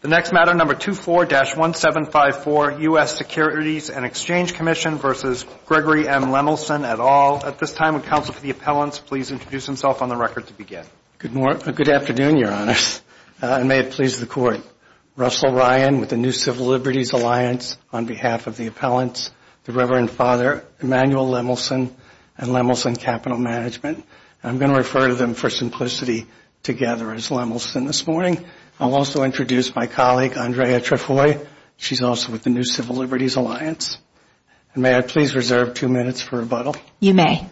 The next matter, number 24-1754, U.S. Securities and Exchange Commission v. Gregory M. Lemelson, et al. At this time, would counsel for the appellants please introduce themselves on the record to begin? Good afternoon, Your Honors, and may it please the Court. Russell Ryan with the New Civil Liberties Alliance on behalf of the appellants, the Reverend Father Emanuel Lemelson and Lemelson Capital Management. I'm going to refer to them for simplicity together as Lemelson this morning. I'll also introduce my colleague, Andrea Trefoy. She's also with the New Civil Liberties Alliance. May I please reserve two minutes for rebuttal? You may.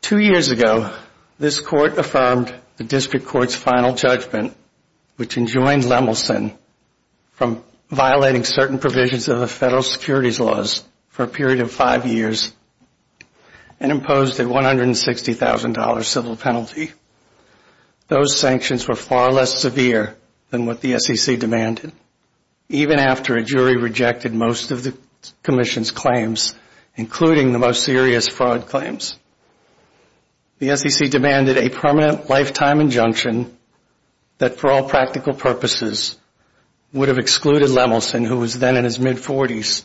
Two years ago, this Court affirmed the District Court's final judgment, which enjoined Lemelson from violating certain provisions of the federal securities laws for a period of five years and imposed a $160,000 civil penalty. Those sanctions were far less severe than what the SEC demanded. Even after a jury rejected most of the Commission's claims, including the most serious fraud claims, the SEC demanded a permanent lifetime injunction that, for all practical purposes, would have excluded Lemelson, who was then in his mid-40s,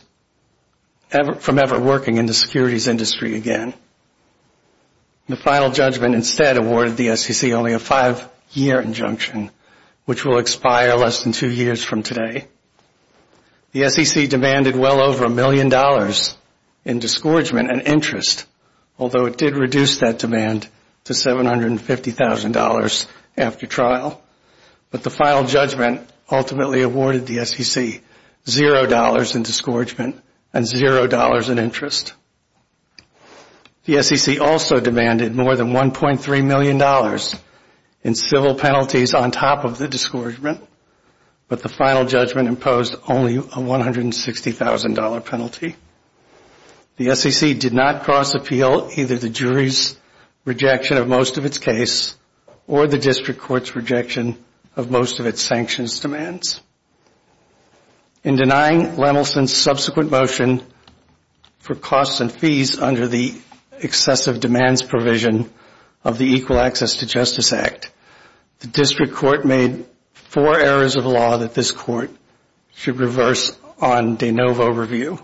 from ever working in the securities industry again. The final judgment instead awarded the SEC only a five-year injunction, which will expire less than two years from today. The SEC demanded well over a million dollars in discouragement and interest, although it did reduce that demand to $750,000 after trial. But the final judgment ultimately awarded the SEC $0 in discouragement and $0 in interest. The SEC also demanded more than $1.3 million in civil penalties on top of the discouragement, but the final judgment imposed only a $160,000 penalty. The SEC did not cross-appeal either the jury's rejection of most of its case or the District Court's rejection of most of its sanctions demands. In denying Lemelson's subsequent motion for costs and fees under the excessive demands provision of the Equal Access to Justice Act, the District Court made four errors of law that this Court should reverse on de novo review.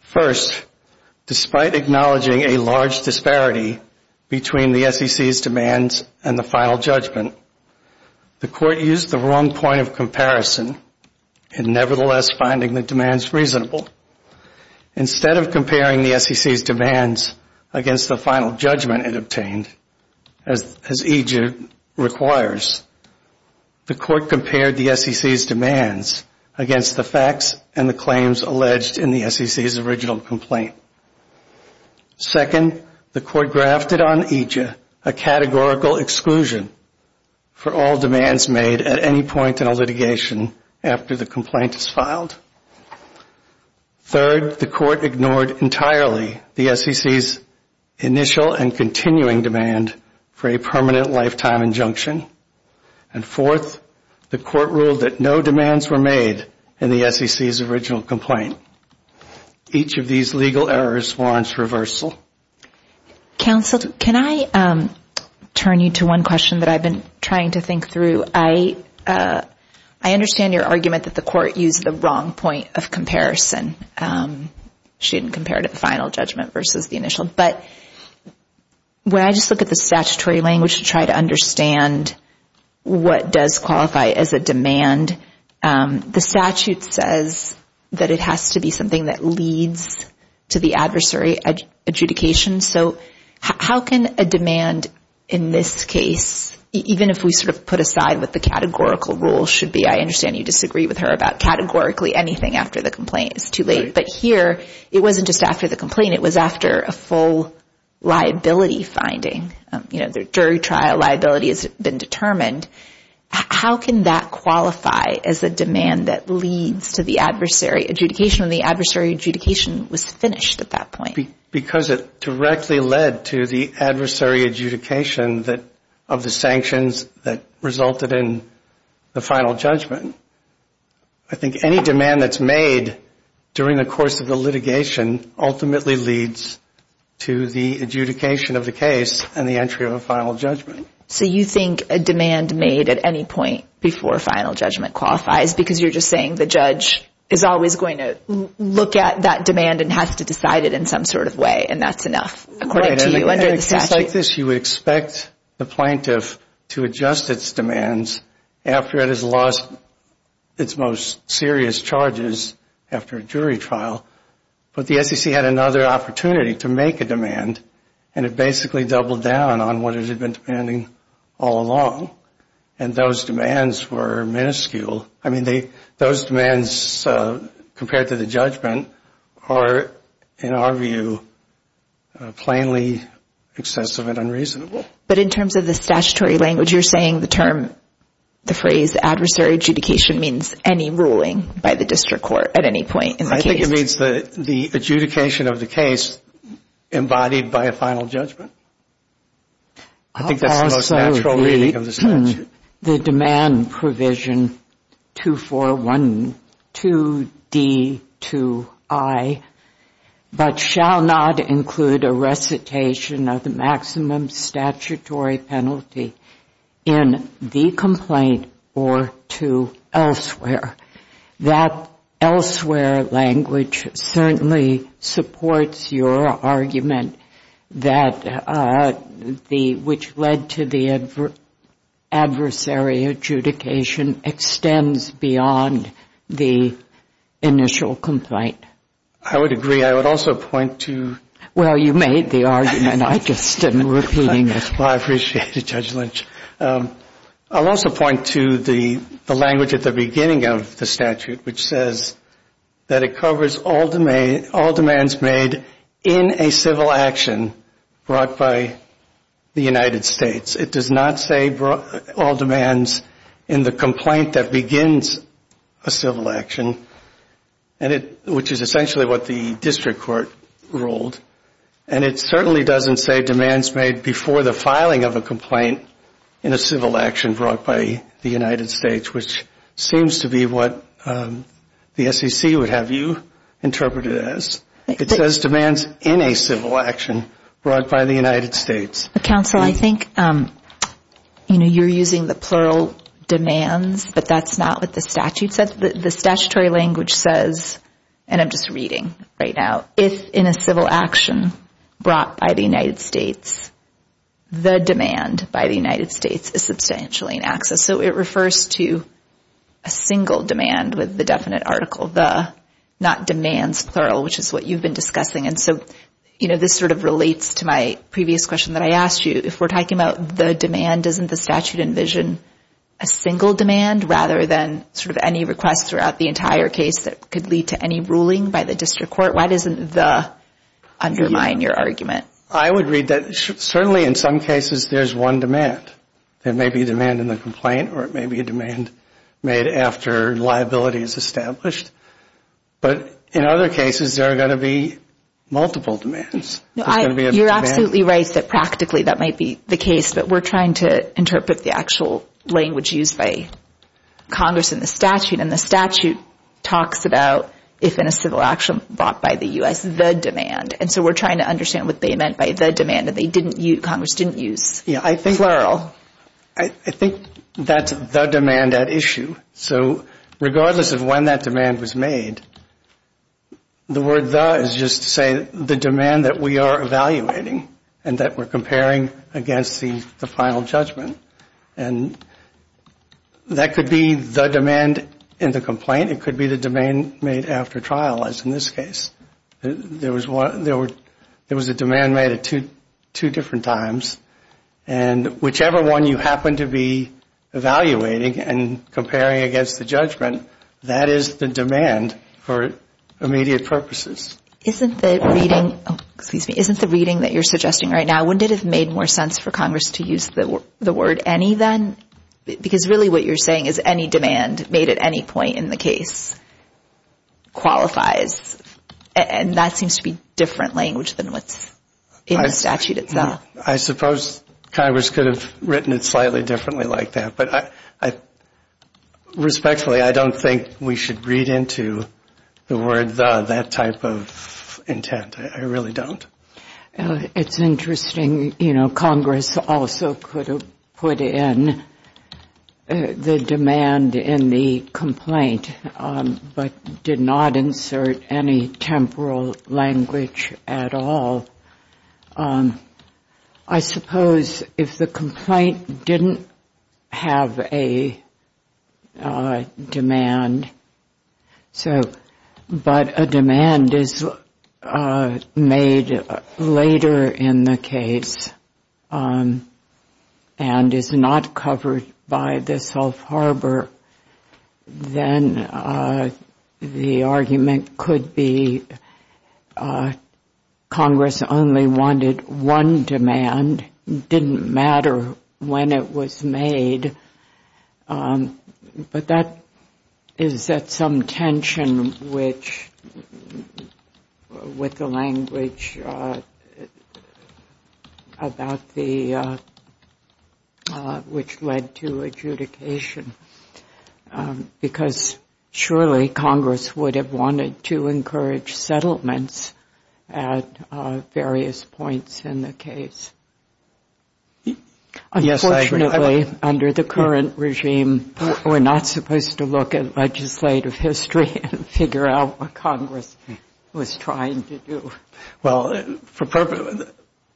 First, despite acknowledging a large disparity between the SEC's demands and the final judgment, the Court used the wrong point of comparison in nevertheless finding the demands reasonable. Instead of comparing the SEC's demands against the final judgment it obtained, as EJID requires, the Court compared the SEC's demands against the facts and the claims alleged in the SEC's original complaint. Second, the Court grafted on EJID a categorical exclusion for all demands made at any point in a litigation after the complaint is filed. Third, the Court ignored entirely the SEC's initial and continuing demand for a permanent lifetime injunction. And fourth, the Court ruled that no demands were made in the SEC's original complaint. Each of these legal errors warrants reversal. Counsel, can I turn you to one question that I've been trying to think through? I understand your argument that the Court used the wrong point of comparison. She didn't compare it to the final judgment versus the initial. But when I just look at the statutory language to try to understand what does qualify as a demand, the statute says that it has to be something that leads to the adversary adjudication. So how can a demand in this case, even if we sort of put aside what the categorical rule should be, I understand you disagree with her about categorically anything after the complaint. It's too late. But here it wasn't just after the complaint. It was after a full liability finding. You know, the jury trial liability has been determined. How can that qualify as a demand that leads to the adversary adjudication when the adversary adjudication was finished at that point? Because it directly led to the adversary adjudication of the sanctions that resulted in the final judgment. I think any demand that's made during the course of the litigation ultimately leads to the adjudication of the case and the entry of a final judgment. So you think a demand made at any point before final judgment qualifies because you're just saying the judge is always going to look at that demand and has to decide it in some sort of way and that's enough according to you under the statute? In a case like this, you would expect the plaintiff to adjust its demands after it has lost its most serious charges after a jury trial. But the SEC had another opportunity to make a demand, and it basically doubled down on what it had been demanding all along. And those demands were minuscule. I mean, those demands compared to the judgment are, in our view, plainly excessive and unreasonable. But in terms of the statutory language, you're saying the term, the phrase adversary adjudication, means any ruling by the district court at any point in the case? I think it means the adjudication of the case embodied by a final judgment. I think that's the most natural reading of the statute. Also the demand provision 2412D2I, but shall not include a recitation of the maximum statutory penalty in the complaint or to elsewhere. That elsewhere language certainly supports your argument that the, which led to the adversary adjudication extends beyond the initial complaint. I would agree. I would also point to. Well, you made the argument. I just am repeating it. Well, I appreciate it, Judge Lynch. I'll also point to the language at the beginning of the statute, which says that it covers all demands made in a civil action brought by the United States. It does not say all demands in the complaint that begins a civil action, which is essentially what the district court ruled. And it certainly doesn't say demands made before the filing of a complaint in a civil action brought by the United States, which seems to be what the SEC would have you interpret it as. It says demands in a civil action brought by the United States. Counsel, I think you're using the plural demands, but that's not what the statute says. The statutory language says, and I'm just reading right now, if in a civil action brought by the United States, the demand by the United States is substantially in excess. So it refers to a single demand with the definite article, the, not demands plural, which is what you've been discussing. And so this sort of relates to my previous question that I asked you. If we're talking about the demand, doesn't the statute envision a single demand rather than sort of any request throughout the entire case that could lead to any ruling by the district court? Why doesn't the undermine your argument? I would read that certainly in some cases there's one demand. There may be a demand in the complaint or it may be a demand made after liability is established. But in other cases, there are going to be multiple demands. You're absolutely right that practically that might be the case, but we're trying to interpret the actual language used by Congress in the statute. And the statute talks about if in a civil action brought by the U.S., the demand. And so we're trying to understand what they meant by the demand that Congress didn't use, plural. I think that's the demand at issue. So regardless of when that demand was made, the word the is just to say the demand that we are evaluating and that we're comparing against the final judgment. And that could be the demand in the complaint. It could be the demand made after trial, as in this case. There was a demand made at two different times. And whichever one you happen to be evaluating and comparing against the judgment, that is the demand for immediate purposes. Isn't the reading that you're suggesting right now, wouldn't it have made more sense for Congress to use the word any then? Because really what you're saying is any demand made at any point in the case qualifies. And that seems to be different language than what's in the statute itself. I suppose Congress could have written it slightly differently like that. But respectfully, I don't think we should read into the word the, that type of intent. I really don't. It's interesting, you know, Congress also could have put in the demand in the complaint but did not insert any temporal language at all. I suppose if the complaint didn't have a demand, but a demand is made later in the case and is not covered by the self-harbor, then the argument could be Congress only wanted one demand. It didn't matter when it was made. But that is at some tension with the language about the, which led to adjudication. Because surely Congress would have wanted to encourage settlements at various points in the case. Unfortunately, under the current regime, we're not supposed to look at legislative history and figure out what Congress was trying to do. Well, the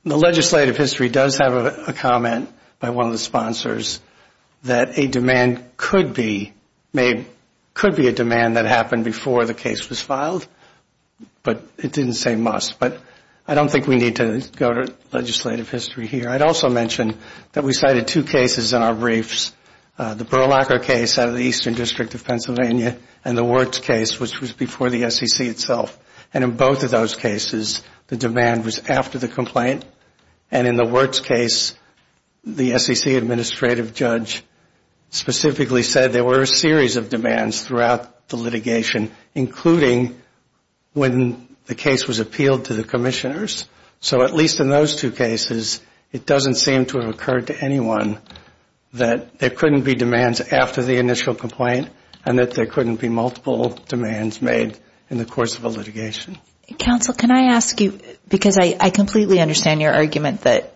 legislative history does have a comment by one of the sponsors that a demand could be made, could be a demand that happened before the case was filed. But it didn't say must. But I don't think we need to go to legislative history here. I'd also mention that we cited two cases in our briefs, the Berlacher case out of the Eastern District of Pennsylvania and the Wertz case, which was before the SEC itself. And in both of those cases, the demand was after the complaint. And in the Wertz case, the SEC Administrative Judge specifically said there were a series of demands throughout the litigation, including when the case was appealed to the commissioners. So at least in those two cases, it doesn't seem to have occurred to anyone that there couldn't be demands after the initial complaint and that there couldn't be multiple demands made in the course of a litigation. Counsel, can I ask you, because I completely understand your argument that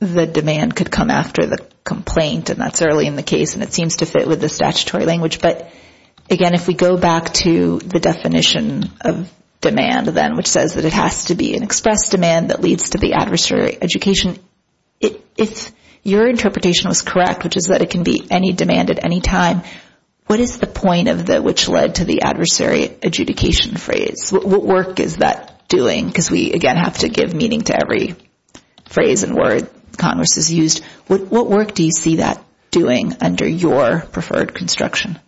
the demand could come after the complaint and that's early in the case and it seems to fit with the statutory language. But again, if we go back to the definition of demand then, which says that it has to be an express demand that leads to the adversary education, if your interpretation was correct, which is that it can be any demand at any time, what is the point of the which led to the adversary adjudication phrase? What work is that doing? Because we, again, have to give meaning to every phrase and word Congress has used. What work do you see that doing under your preferred construction?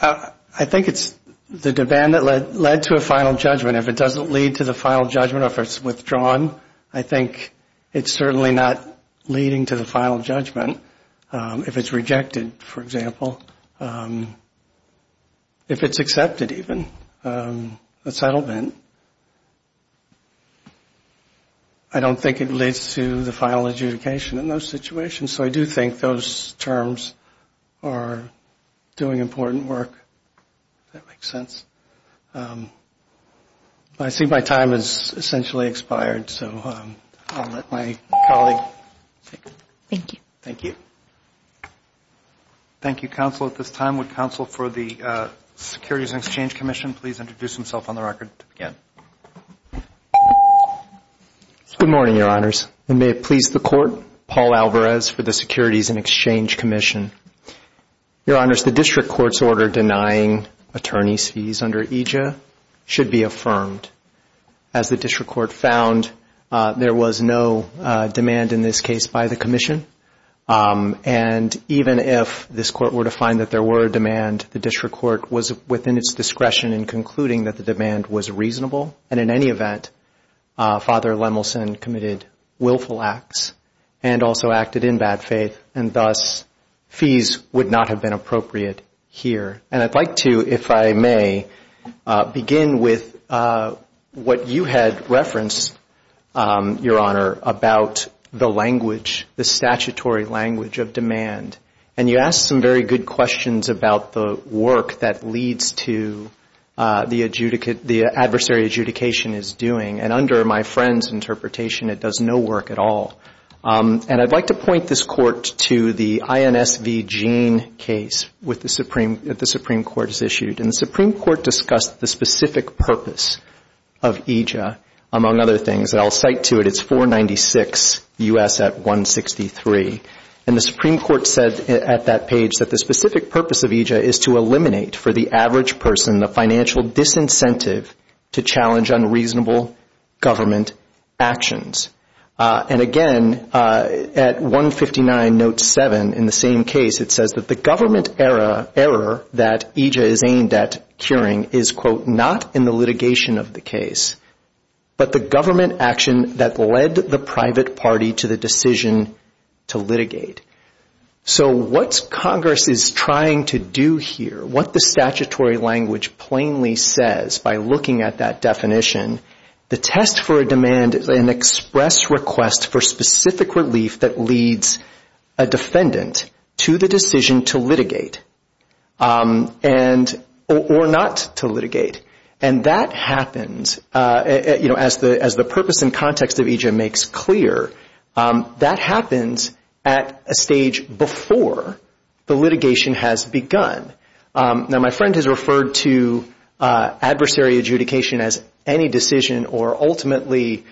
I think it's the demand that led to a final judgment. If it doesn't lead to the final judgment or if it's withdrawn, I think it's certainly not leading to the final judgment. If it's rejected, for example, if it's accepted even, a settlement, I don't think it leads to the final adjudication in those situations. So I do think those terms are doing important work, if that makes sense. I see my time has essentially expired, so I'll let my colleague take it. Thank you. Thank you, Counsel, at this time. Would Counsel for the Securities and Exchange Commission please introduce himself on the record to begin? Good morning, Your Honors. And may it please the Court, Paul Alvarez for the Securities and Exchange Commission. Your Honors, the district court's order denying attorney's fees under EJA should be affirmed. As the district court found, there was no demand in this case by the commission, and even if this court were to find that there were demand, the district court was within its discretion in concluding that the demand was reasonable, and in any event, Father Lemelson committed willful acts and also acted in bad faith, and thus fees would not have been appropriate here. And I'd like to, if I may, begin with what you had referenced, Your Honor, about the language, the statutory language of demand. And you asked some very good questions about the work that leads to the adversary adjudication is doing, and under my friend's interpretation, it does no work at all. And I'd like to point this Court to the INSV Gene case that the Supreme Court has issued. And the Supreme Court discussed the specific purpose of EJA, among other things, and I'll cite to it, it's 496 U.S. at 163. And the Supreme Court said at that page that the specific purpose of EJA is to eliminate for the average person the financial disincentive to challenge unreasonable government actions. And again, at 159 note 7, in the same case, it says that the government error that EJA is aimed at curing is, quote, not in the litigation of the case, but the government action that led the private party to the decision to litigate. So what Congress is trying to do here, what the statutory language plainly says by looking at that definition, the test for a demand is an express request for specific relief that leads a defendant to the decision to litigate or not to litigate. And that happens, you know, as the purpose and context of EJA makes clear, that happens at a stage before the litigation has begun. Now, my friend has referred to adversary adjudication as any decision or ultimately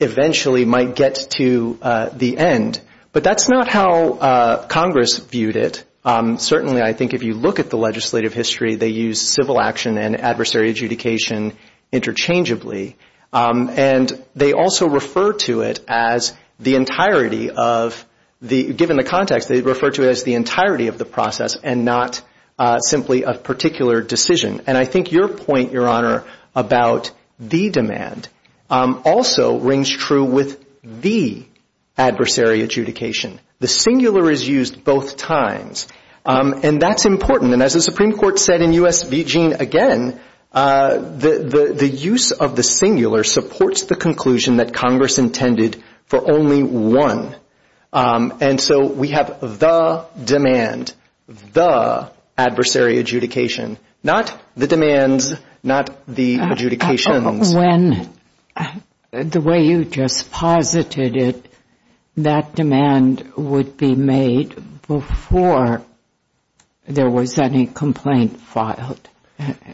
eventually might get to the end. But that's not how Congress viewed it. Certainly, I think if you look at the legislative history, they use civil action and adversary adjudication interchangeably. And they also refer to it as the entirety of the, given the context, they refer to it as the entirety of the process and not simply a particular decision. And I think your point, Your Honor, about the demand also rings true with the adversary adjudication. The singular is used both times. And that's important. And as the Supreme Court said in U.S. v. Gene again, the use of the singular supports the conclusion that Congress intended for only one. And so we have the demand, the adversary adjudication, not the demands, not the adjudications. When, the way you just posited it, that demand would be made before there was any complaint filed,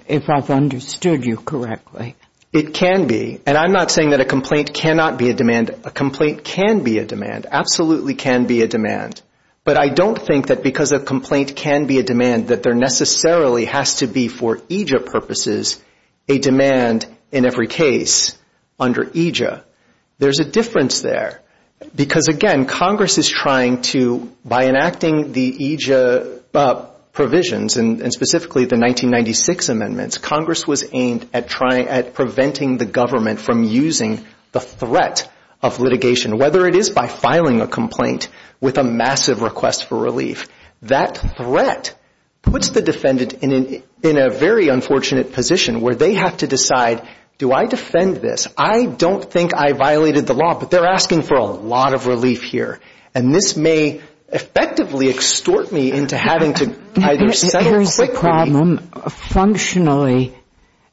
if I've understood you correctly. It can be. And I'm not saying that a complaint cannot be a demand. A complaint can be a demand, absolutely can be a demand. But I don't think that because a complaint can be a demand that there necessarily has to be for EJIA purposes a demand in every case under EJIA. There's a difference there. Because, again, Congress is trying to, by enacting the EJIA provisions and specifically the 1996 amendments, Congress was aimed at trying, at preventing the government from using the threat of litigation, whether it is by filing a complaint with a massive request for relief. That threat puts the defendant in a very unfortunate position where they have to decide, do I defend this? I don't think I violated the law, but they're asking for a lot of relief here. And this may effectively extort me into having to either settle quickly. Functionally,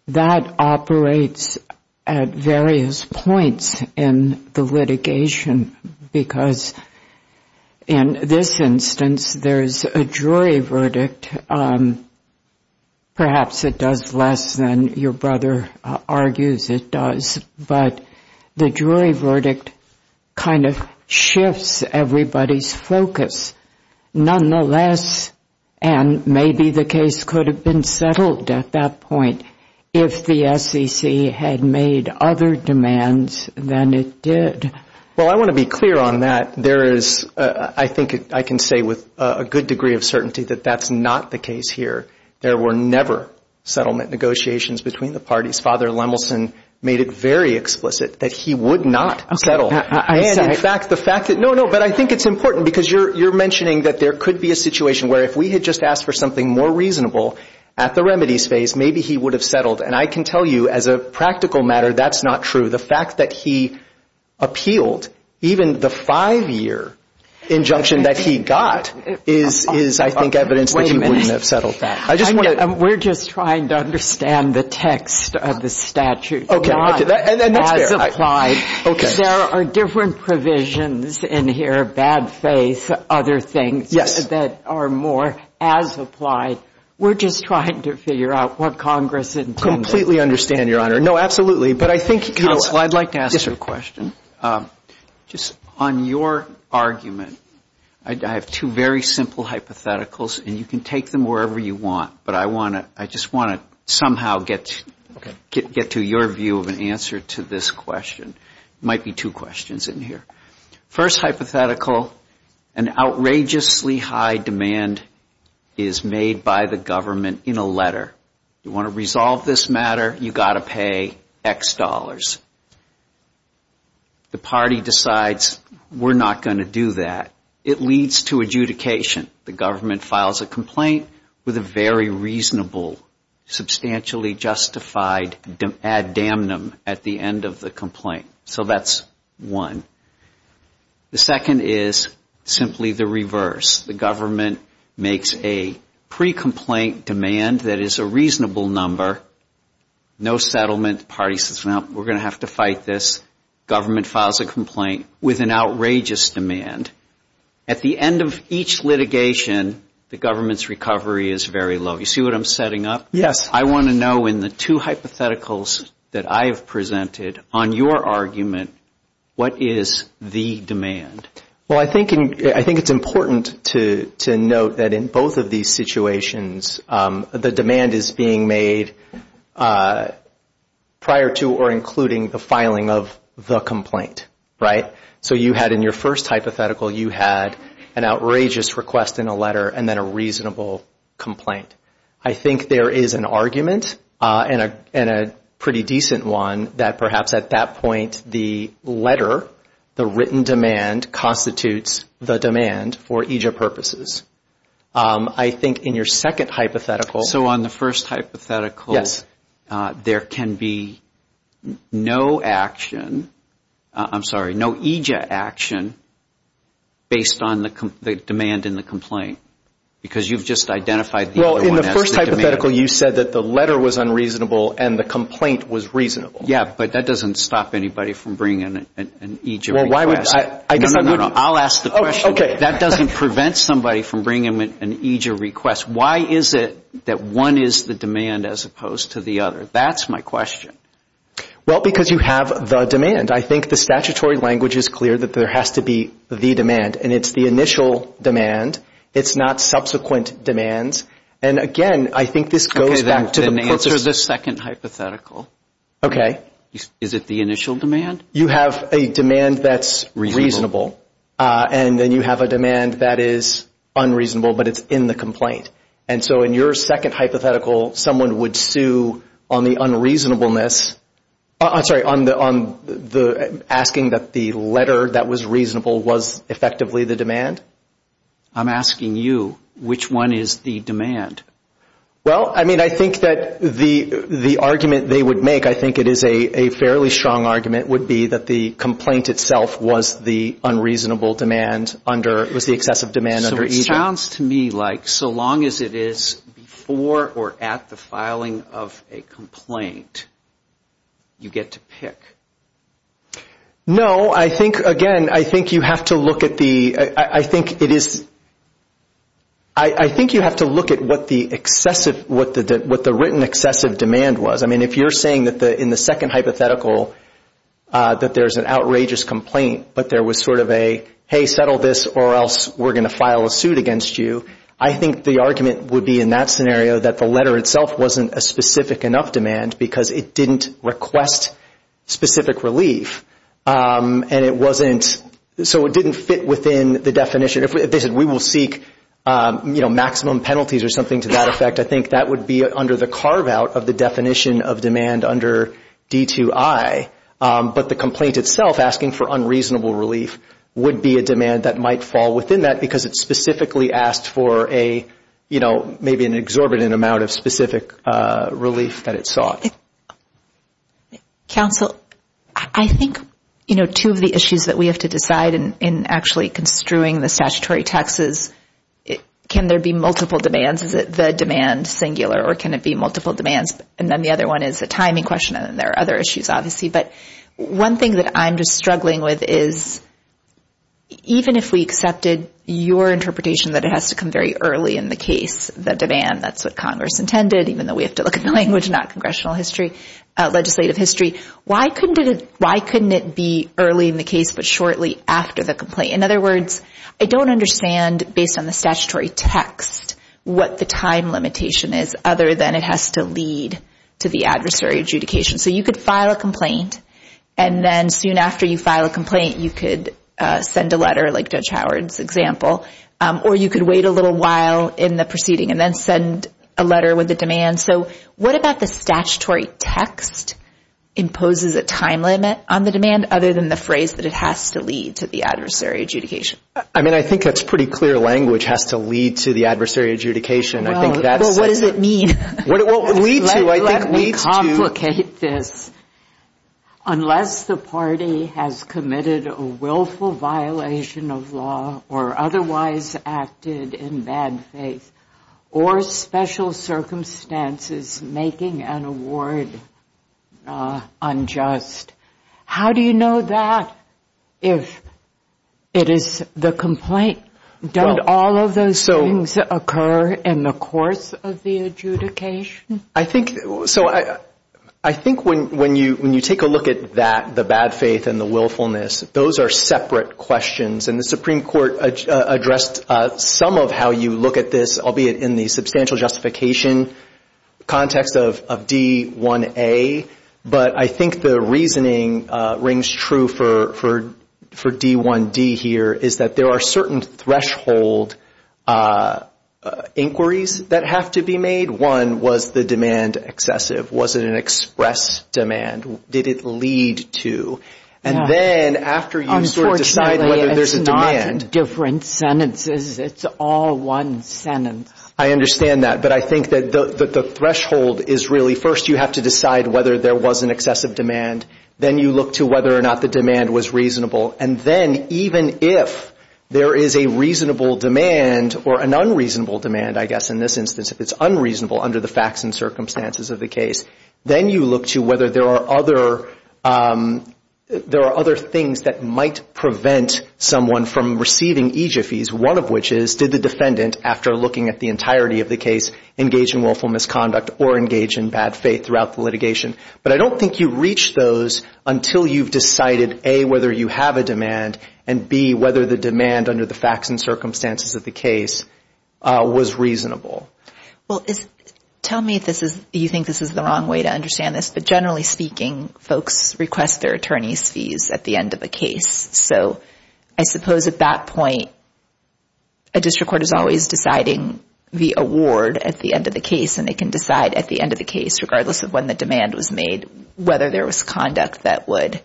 that operates at various points in the litigation. Because in this instance, there's a jury verdict. Perhaps it does less than your brother argues it does. But the jury verdict kind of shifts everybody's focus. Nonetheless, and maybe the case could have been settled at that point if the SEC had made other demands than it did. Well, I want to be clear on that. There is, I think I can say with a good degree of certainty that that's not the case here. There were never settlement negotiations between the parties. Father Lemelson made it very explicit that he would not settle. No, no, but I think it's important because you're mentioning that there could be a situation where if we had just asked for something more reasonable at the remedies phase, maybe he would have settled. And I can tell you as a practical matter, that's not true. The fact that he appealed even the five-year injunction that he got is, I think, evidence that he wouldn't have settled that. We're just trying to understand the text of the statute as applied. There are different provisions in here, bad faith, other things that are more as applied. We're just trying to figure out what Congress intended. I completely understand, Your Honor. No, absolutely. But I think counsel, I'd like to ask you a question. Yes, sir. Just on your argument, I have two very simple hypotheticals, and you can take them wherever you want. But I just want to somehow get to your view of an answer to this question. There might be two questions in here. First hypothetical, an outrageously high demand is made by the government in a letter. You want to resolve this matter, you've got to pay X dollars. The party decides we're not going to do that. It leads to adjudication. The government files a complaint with a very reasonable, substantially justified ad damnum at the end of the complaint. So that's one. The second is simply the reverse. The government makes a pre-complaint demand that is a reasonable number, no settlement. The party says, well, we're going to have to fight this. Government files a complaint with an outrageous demand. At the end of each litigation, the government's recovery is very low. You see what I'm setting up? Yes. I want to know in the two hypotheticals that I have presented, on your argument, what is the demand? Well, I think it's important to note that in both of these situations, the demand is being made prior to or including the filing of the complaint, right? So you had in your first hypothetical, you had an outrageous request in a letter and then a reasonable complaint. I think there is an argument and a pretty decent one that perhaps at that point, the letter, the written demand constitutes the demand for EJIP purposes. I think in your second hypothetical. So on the first hypothetical. Yes. There can be no action, I'm sorry, no EJIP action based on the demand in the complaint because you've just identified the other one as the demand. Well, in the first hypothetical, you said that the letter was unreasonable and the complaint was reasonable. Yes, but that doesn't stop anybody from bringing an EJIP request. Well, why would I? No, no, no. I'll ask the question. Okay. That doesn't prevent somebody from bringing an EJIP request. Why is it that one is the demand as opposed to the other? That's my question. Well, because you have the demand. I think the statutory language is clear that there has to be the demand, and it's the initial demand. It's not subsequent demands. And again, I think this goes back to the purpose. Okay, then answer the second hypothetical. Okay. Is it the initial demand? You have a demand that's reasonable. And then you have a demand that is unreasonable, but it's in the complaint. And so in your second hypothetical, someone would sue on the unreasonableness, I'm sorry, on the asking that the letter that was reasonable was effectively the demand? I'm asking you, which one is the demand? Well, I mean, I think that the argument they would make, I think it is a fairly strong argument, would be that the complaint itself was the unreasonable demand under, was the excessive demand under EJIP. So it sounds to me like so long as it is before or at the filing of a complaint, you get to pick. No, I think, again, I think you have to look at the, I think it is, I think you have to look at what the excessive, what the written excessive demand was. I mean, if you're saying that in the second hypothetical that there's an outrageous complaint, but there was sort of a, hey, settle this or else we're going to file a suit against you, I think the argument would be in that scenario that the letter itself wasn't a specific enough demand because it didn't request specific relief. And it wasn't, so it didn't fit within the definition. If they said we will seek, you know, maximum penalties or something to that effect, I think that would be under the carve out of the definition of demand under D2I. But the complaint itself asking for unreasonable relief would be a demand that might fall within that because it specifically asked for a, you know, maybe an exorbitant amount of specific relief that it sought. Counsel, I think, you know, two of the issues that we have to decide in actually construing the statutory taxes, can there be multiple demands? Is it the demand singular or can it be multiple demands? And then the other one is a timing question and there are other issues, obviously. But one thing that I'm just struggling with is even if we accepted your interpretation that it has to come very early in the case, the demand, that's what Congress intended, even though we have to look at the language, not congressional history, legislative history, why couldn't it be early in the case but shortly after the complaint? In other words, I don't understand based on the statutory text what the time limitation is other than it has to lead to the adversary adjudication. So you could file a complaint and then soon after you file a complaint you could send a letter, like Judge Howard's example, or you could wait a little while in the proceeding and then send a letter with a demand. So what about the statutory text imposes a time limit on the demand other than the phrase that it has to lead to the adversary adjudication? I mean, I think that's pretty clear language, has to lead to the adversary adjudication. Well, what does it mean? Well, lead to, I think lead to. Let me complicate this. Unless the party has committed a willful violation of law or otherwise acted in bad faith or special circumstances making an award unjust, how do you know that if it is the complaint? Don't all of those things occur in the course of the adjudication? I think when you take a look at that, the bad faith and the willfulness, those are separate questions, and the Supreme Court addressed some of how you look at this, albeit in the substantial justification context of D1A, but I think the reasoning rings true for D1D here is that there are certain threshold inquiries that have to be made. One, was the demand excessive? Was it an express demand? Did it lead to? Unfortunately, it's not different sentences. It's all one sentence. I understand that, but I think that the threshold is really, first you have to decide whether there was an excessive demand, then you look to whether or not the demand was reasonable, and then even if there is a reasonable demand or an unreasonable demand, I guess in this instance, if it's unreasonable under the facts and circumstances of the case, then you look to whether there are other things that might prevent someone from receiving EJF fees, one of which is, did the defendant, after looking at the entirety of the case, engage in willful misconduct or engage in bad faith throughout the litigation? But I don't think you reach those until you've decided, A, whether you have a demand, and, B, whether the demand under the facts and circumstances of the case was reasonable. Well, tell me if you think this is the wrong way to understand this, but generally speaking, folks request their attorney's fees at the end of a case. So I suppose at that point, a district court is always deciding the award at the end of the case, and they can decide at the end of the case, regardless of when the demand was made, whether there was conduct that would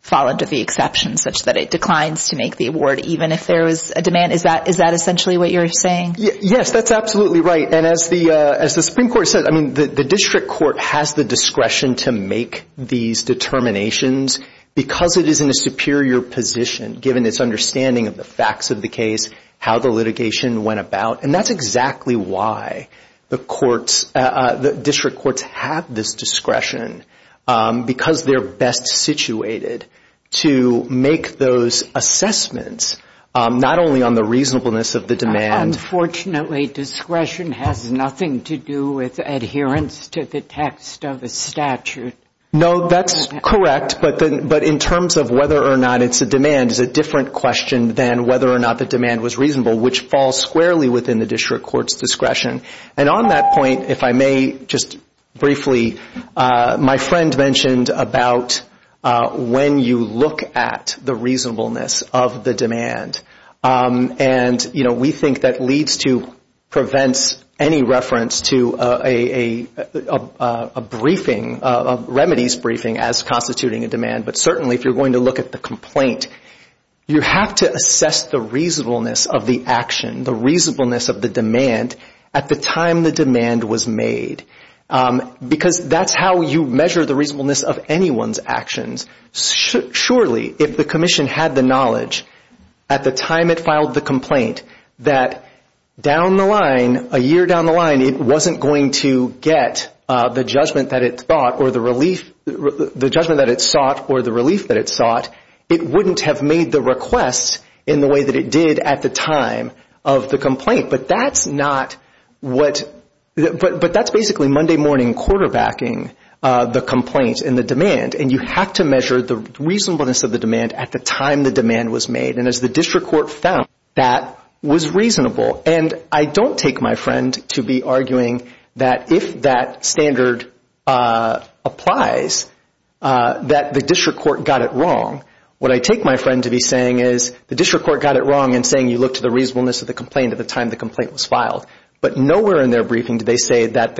fall under the exception, such that it declines to make the award even if there was a demand. Is that essentially what you're saying? Yes, that's absolutely right. And as the Supreme Court said, I mean, the district court has the discretion to make these determinations because it is in a superior position, given its understanding of the facts of the case, how the litigation went about, and that's exactly why the courts, the district courts have this discretion because they're best situated to make those assessments, not only on the reasonableness of the demand. Unfortunately, discretion has nothing to do with adherence to the text of the statute. No, that's correct, but in terms of whether or not it's a demand, it's a different question than whether or not the demand was reasonable, which falls squarely within the district court's discretion. And on that point, if I may just briefly, my friend mentioned about when you look at the reasonableness of the demand. And, you know, we think that leads to prevents any reference to a briefing, a remedies briefing as constituting a demand. But certainly if you're going to look at the complaint, you have to assess the reasonableness of the action, the reasonableness of the demand, at the time the demand was made because that's how you measure the reasonableness of anyone's actions. Surely if the commission had the knowledge at the time it filed the complaint that down the line, a year down the line it wasn't going to get the judgment that it thought or the relief, the judgment that it sought or the relief that it sought, it wouldn't have made the request in the way that it did at the time of the complaint. But that's not what – but that's basically Monday morning quarterbacking the complaint and the demand. And you have to measure the reasonableness of the demand at the time the demand was made. And as the district court found, that was reasonable. And I don't take my friend to be arguing that if that standard applies, that the district court got it wrong. What I take my friend to be saying is the district court got it wrong in saying you look to the reasonableness of the complaint at the time the complaint was filed. But nowhere in their briefing do they say that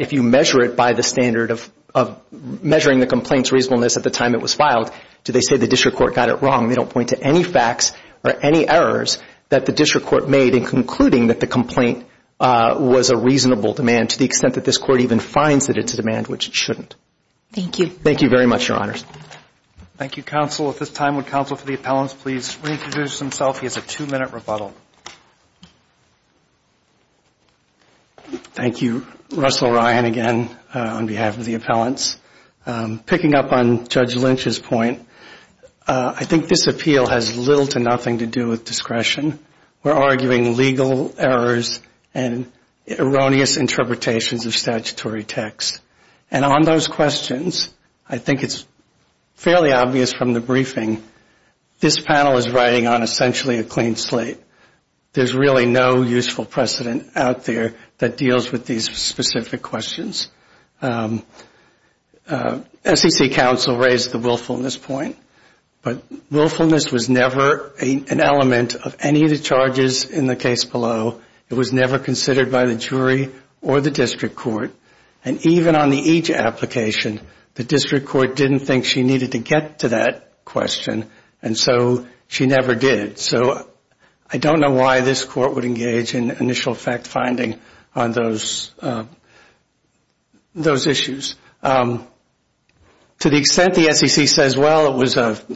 if you measure it by the standard of measuring the complaint's reasonableness at the time it was filed, do they say the district court got it wrong. They don't point to any facts or any errors that the district court made in concluding that the complaint was a reasonable demand to the extent that this court even finds that it's a demand, which it shouldn't. Thank you. Thank you very much, Your Honors. Thank you, counsel. At this time, would counsel for the appellants please reintroduce himself. He has a two-minute rebuttal. Thank you. Russell Ryan again on behalf of the appellants. Picking up on Judge Lynch's point, I think this appeal has little to nothing to do with discretion. We're arguing legal errors and erroneous interpretations of statutory text. And on those questions, I think it's fairly obvious from the briefing, this panel is riding on essentially a clean slate. There's really no useful precedent out there that deals with these specific questions. SEC counsel raised the willfulness point, but willfulness was never an element of any of the charges in the case below. It was never considered by the jury or the district court. And even on the each application, the district court didn't think she needed to get to that question, and so she never did. So I don't know why this court would engage in initial fact-finding on those issues. To the extent the SEC says, well, it was a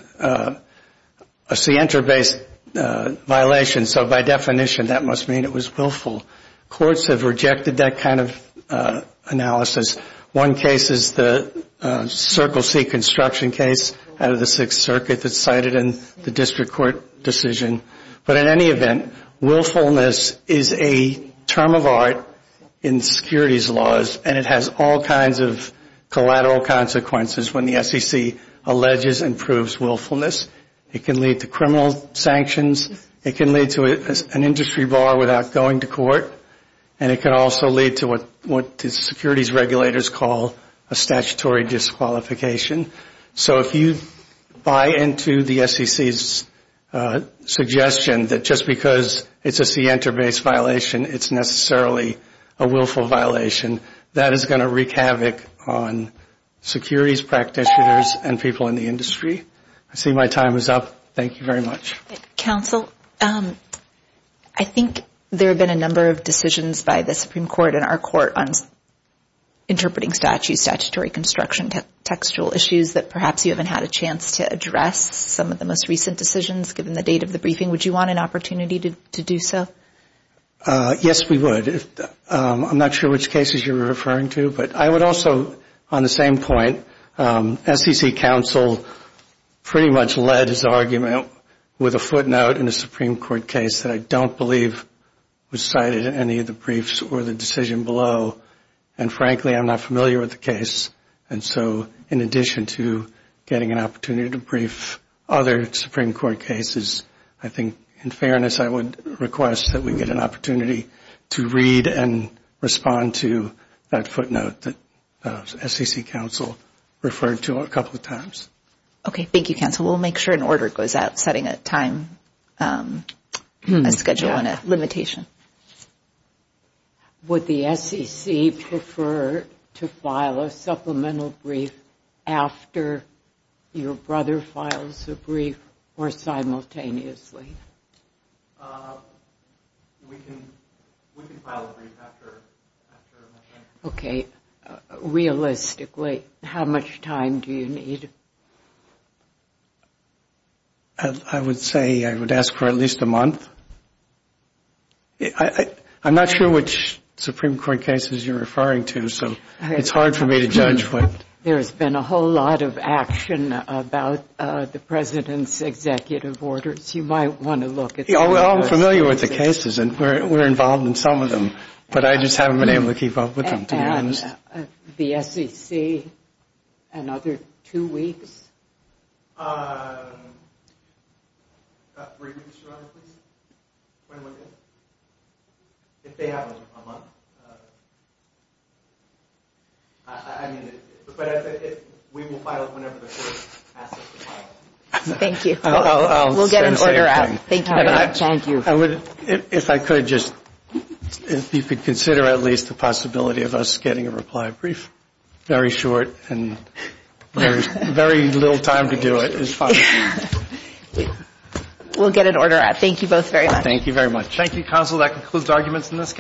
scienter-based violation, so by definition that must mean it was willful, courts have rejected that kind of analysis. One case is the Circle C construction case out of the Sixth Circuit that's cited in the district court decision. But in any event, willfulness is a term of art in securities laws, and it has all kinds of collateral consequences when the SEC alleges and proves willfulness. It can lead to criminal sanctions, it can lead to an industry bar without going to court, and it can also lead to what the securities regulators call a statutory disqualification. So if you buy into the SEC's suggestion that just because it's a scienter-based violation, it's necessarily a willful violation, that is going to wreak havoc on securities practitioners and people in the industry. I see my time is up. Thank you very much. Counsel, I think there have been a number of decisions by the Supreme Court and our court on interpreting statutes, statutory construction, textual issues, that perhaps you haven't had a chance to address some of the most recent decisions given the date of the briefing. Would you want an opportunity to do so? Yes, we would. I'm not sure which cases you're referring to. But I would also, on the same point, SEC counsel pretty much led his argument with a footnote in a Supreme Court case that I don't believe was cited in any of the briefs or the decision below. And frankly, I'm not familiar with the case. And so in addition to getting an opportunity to brief other Supreme Court cases, I think, in fairness, I would request that we get an opportunity to read and respond to that footnote that SEC counsel referred to a couple of times. Okay. Thank you, counsel. We'll make sure an order goes out setting a time schedule and a limitation. Would the SEC prefer to file a supplemental brief after your brother files a brief or simultaneously? We can file a brief after my brother. Okay. Realistically, how much time do you need? I would say I would ask for at least a month. I'm not sure which Supreme Court cases you're referring to, so it's hard for me to judge. There's been a whole lot of action about the President's executive orders. You might want to look at some of those. I'm familiar with the cases, and we're involved in some of them. But I just haven't been able to keep up with them, to be honest. The SEC, another two weeks? Briefings, Your Honor, please. If they have a month. But we will file it whenever the court asks us to file it. Thank you. We'll get an order out. Thank you very much. If I could just, if you could consider at least the possibility of us getting a reply brief. Very short and very little time to do it is fine. We'll get an order out. Thank you both very much. Thank you very much. Thank you, counsel. That concludes arguments in this case.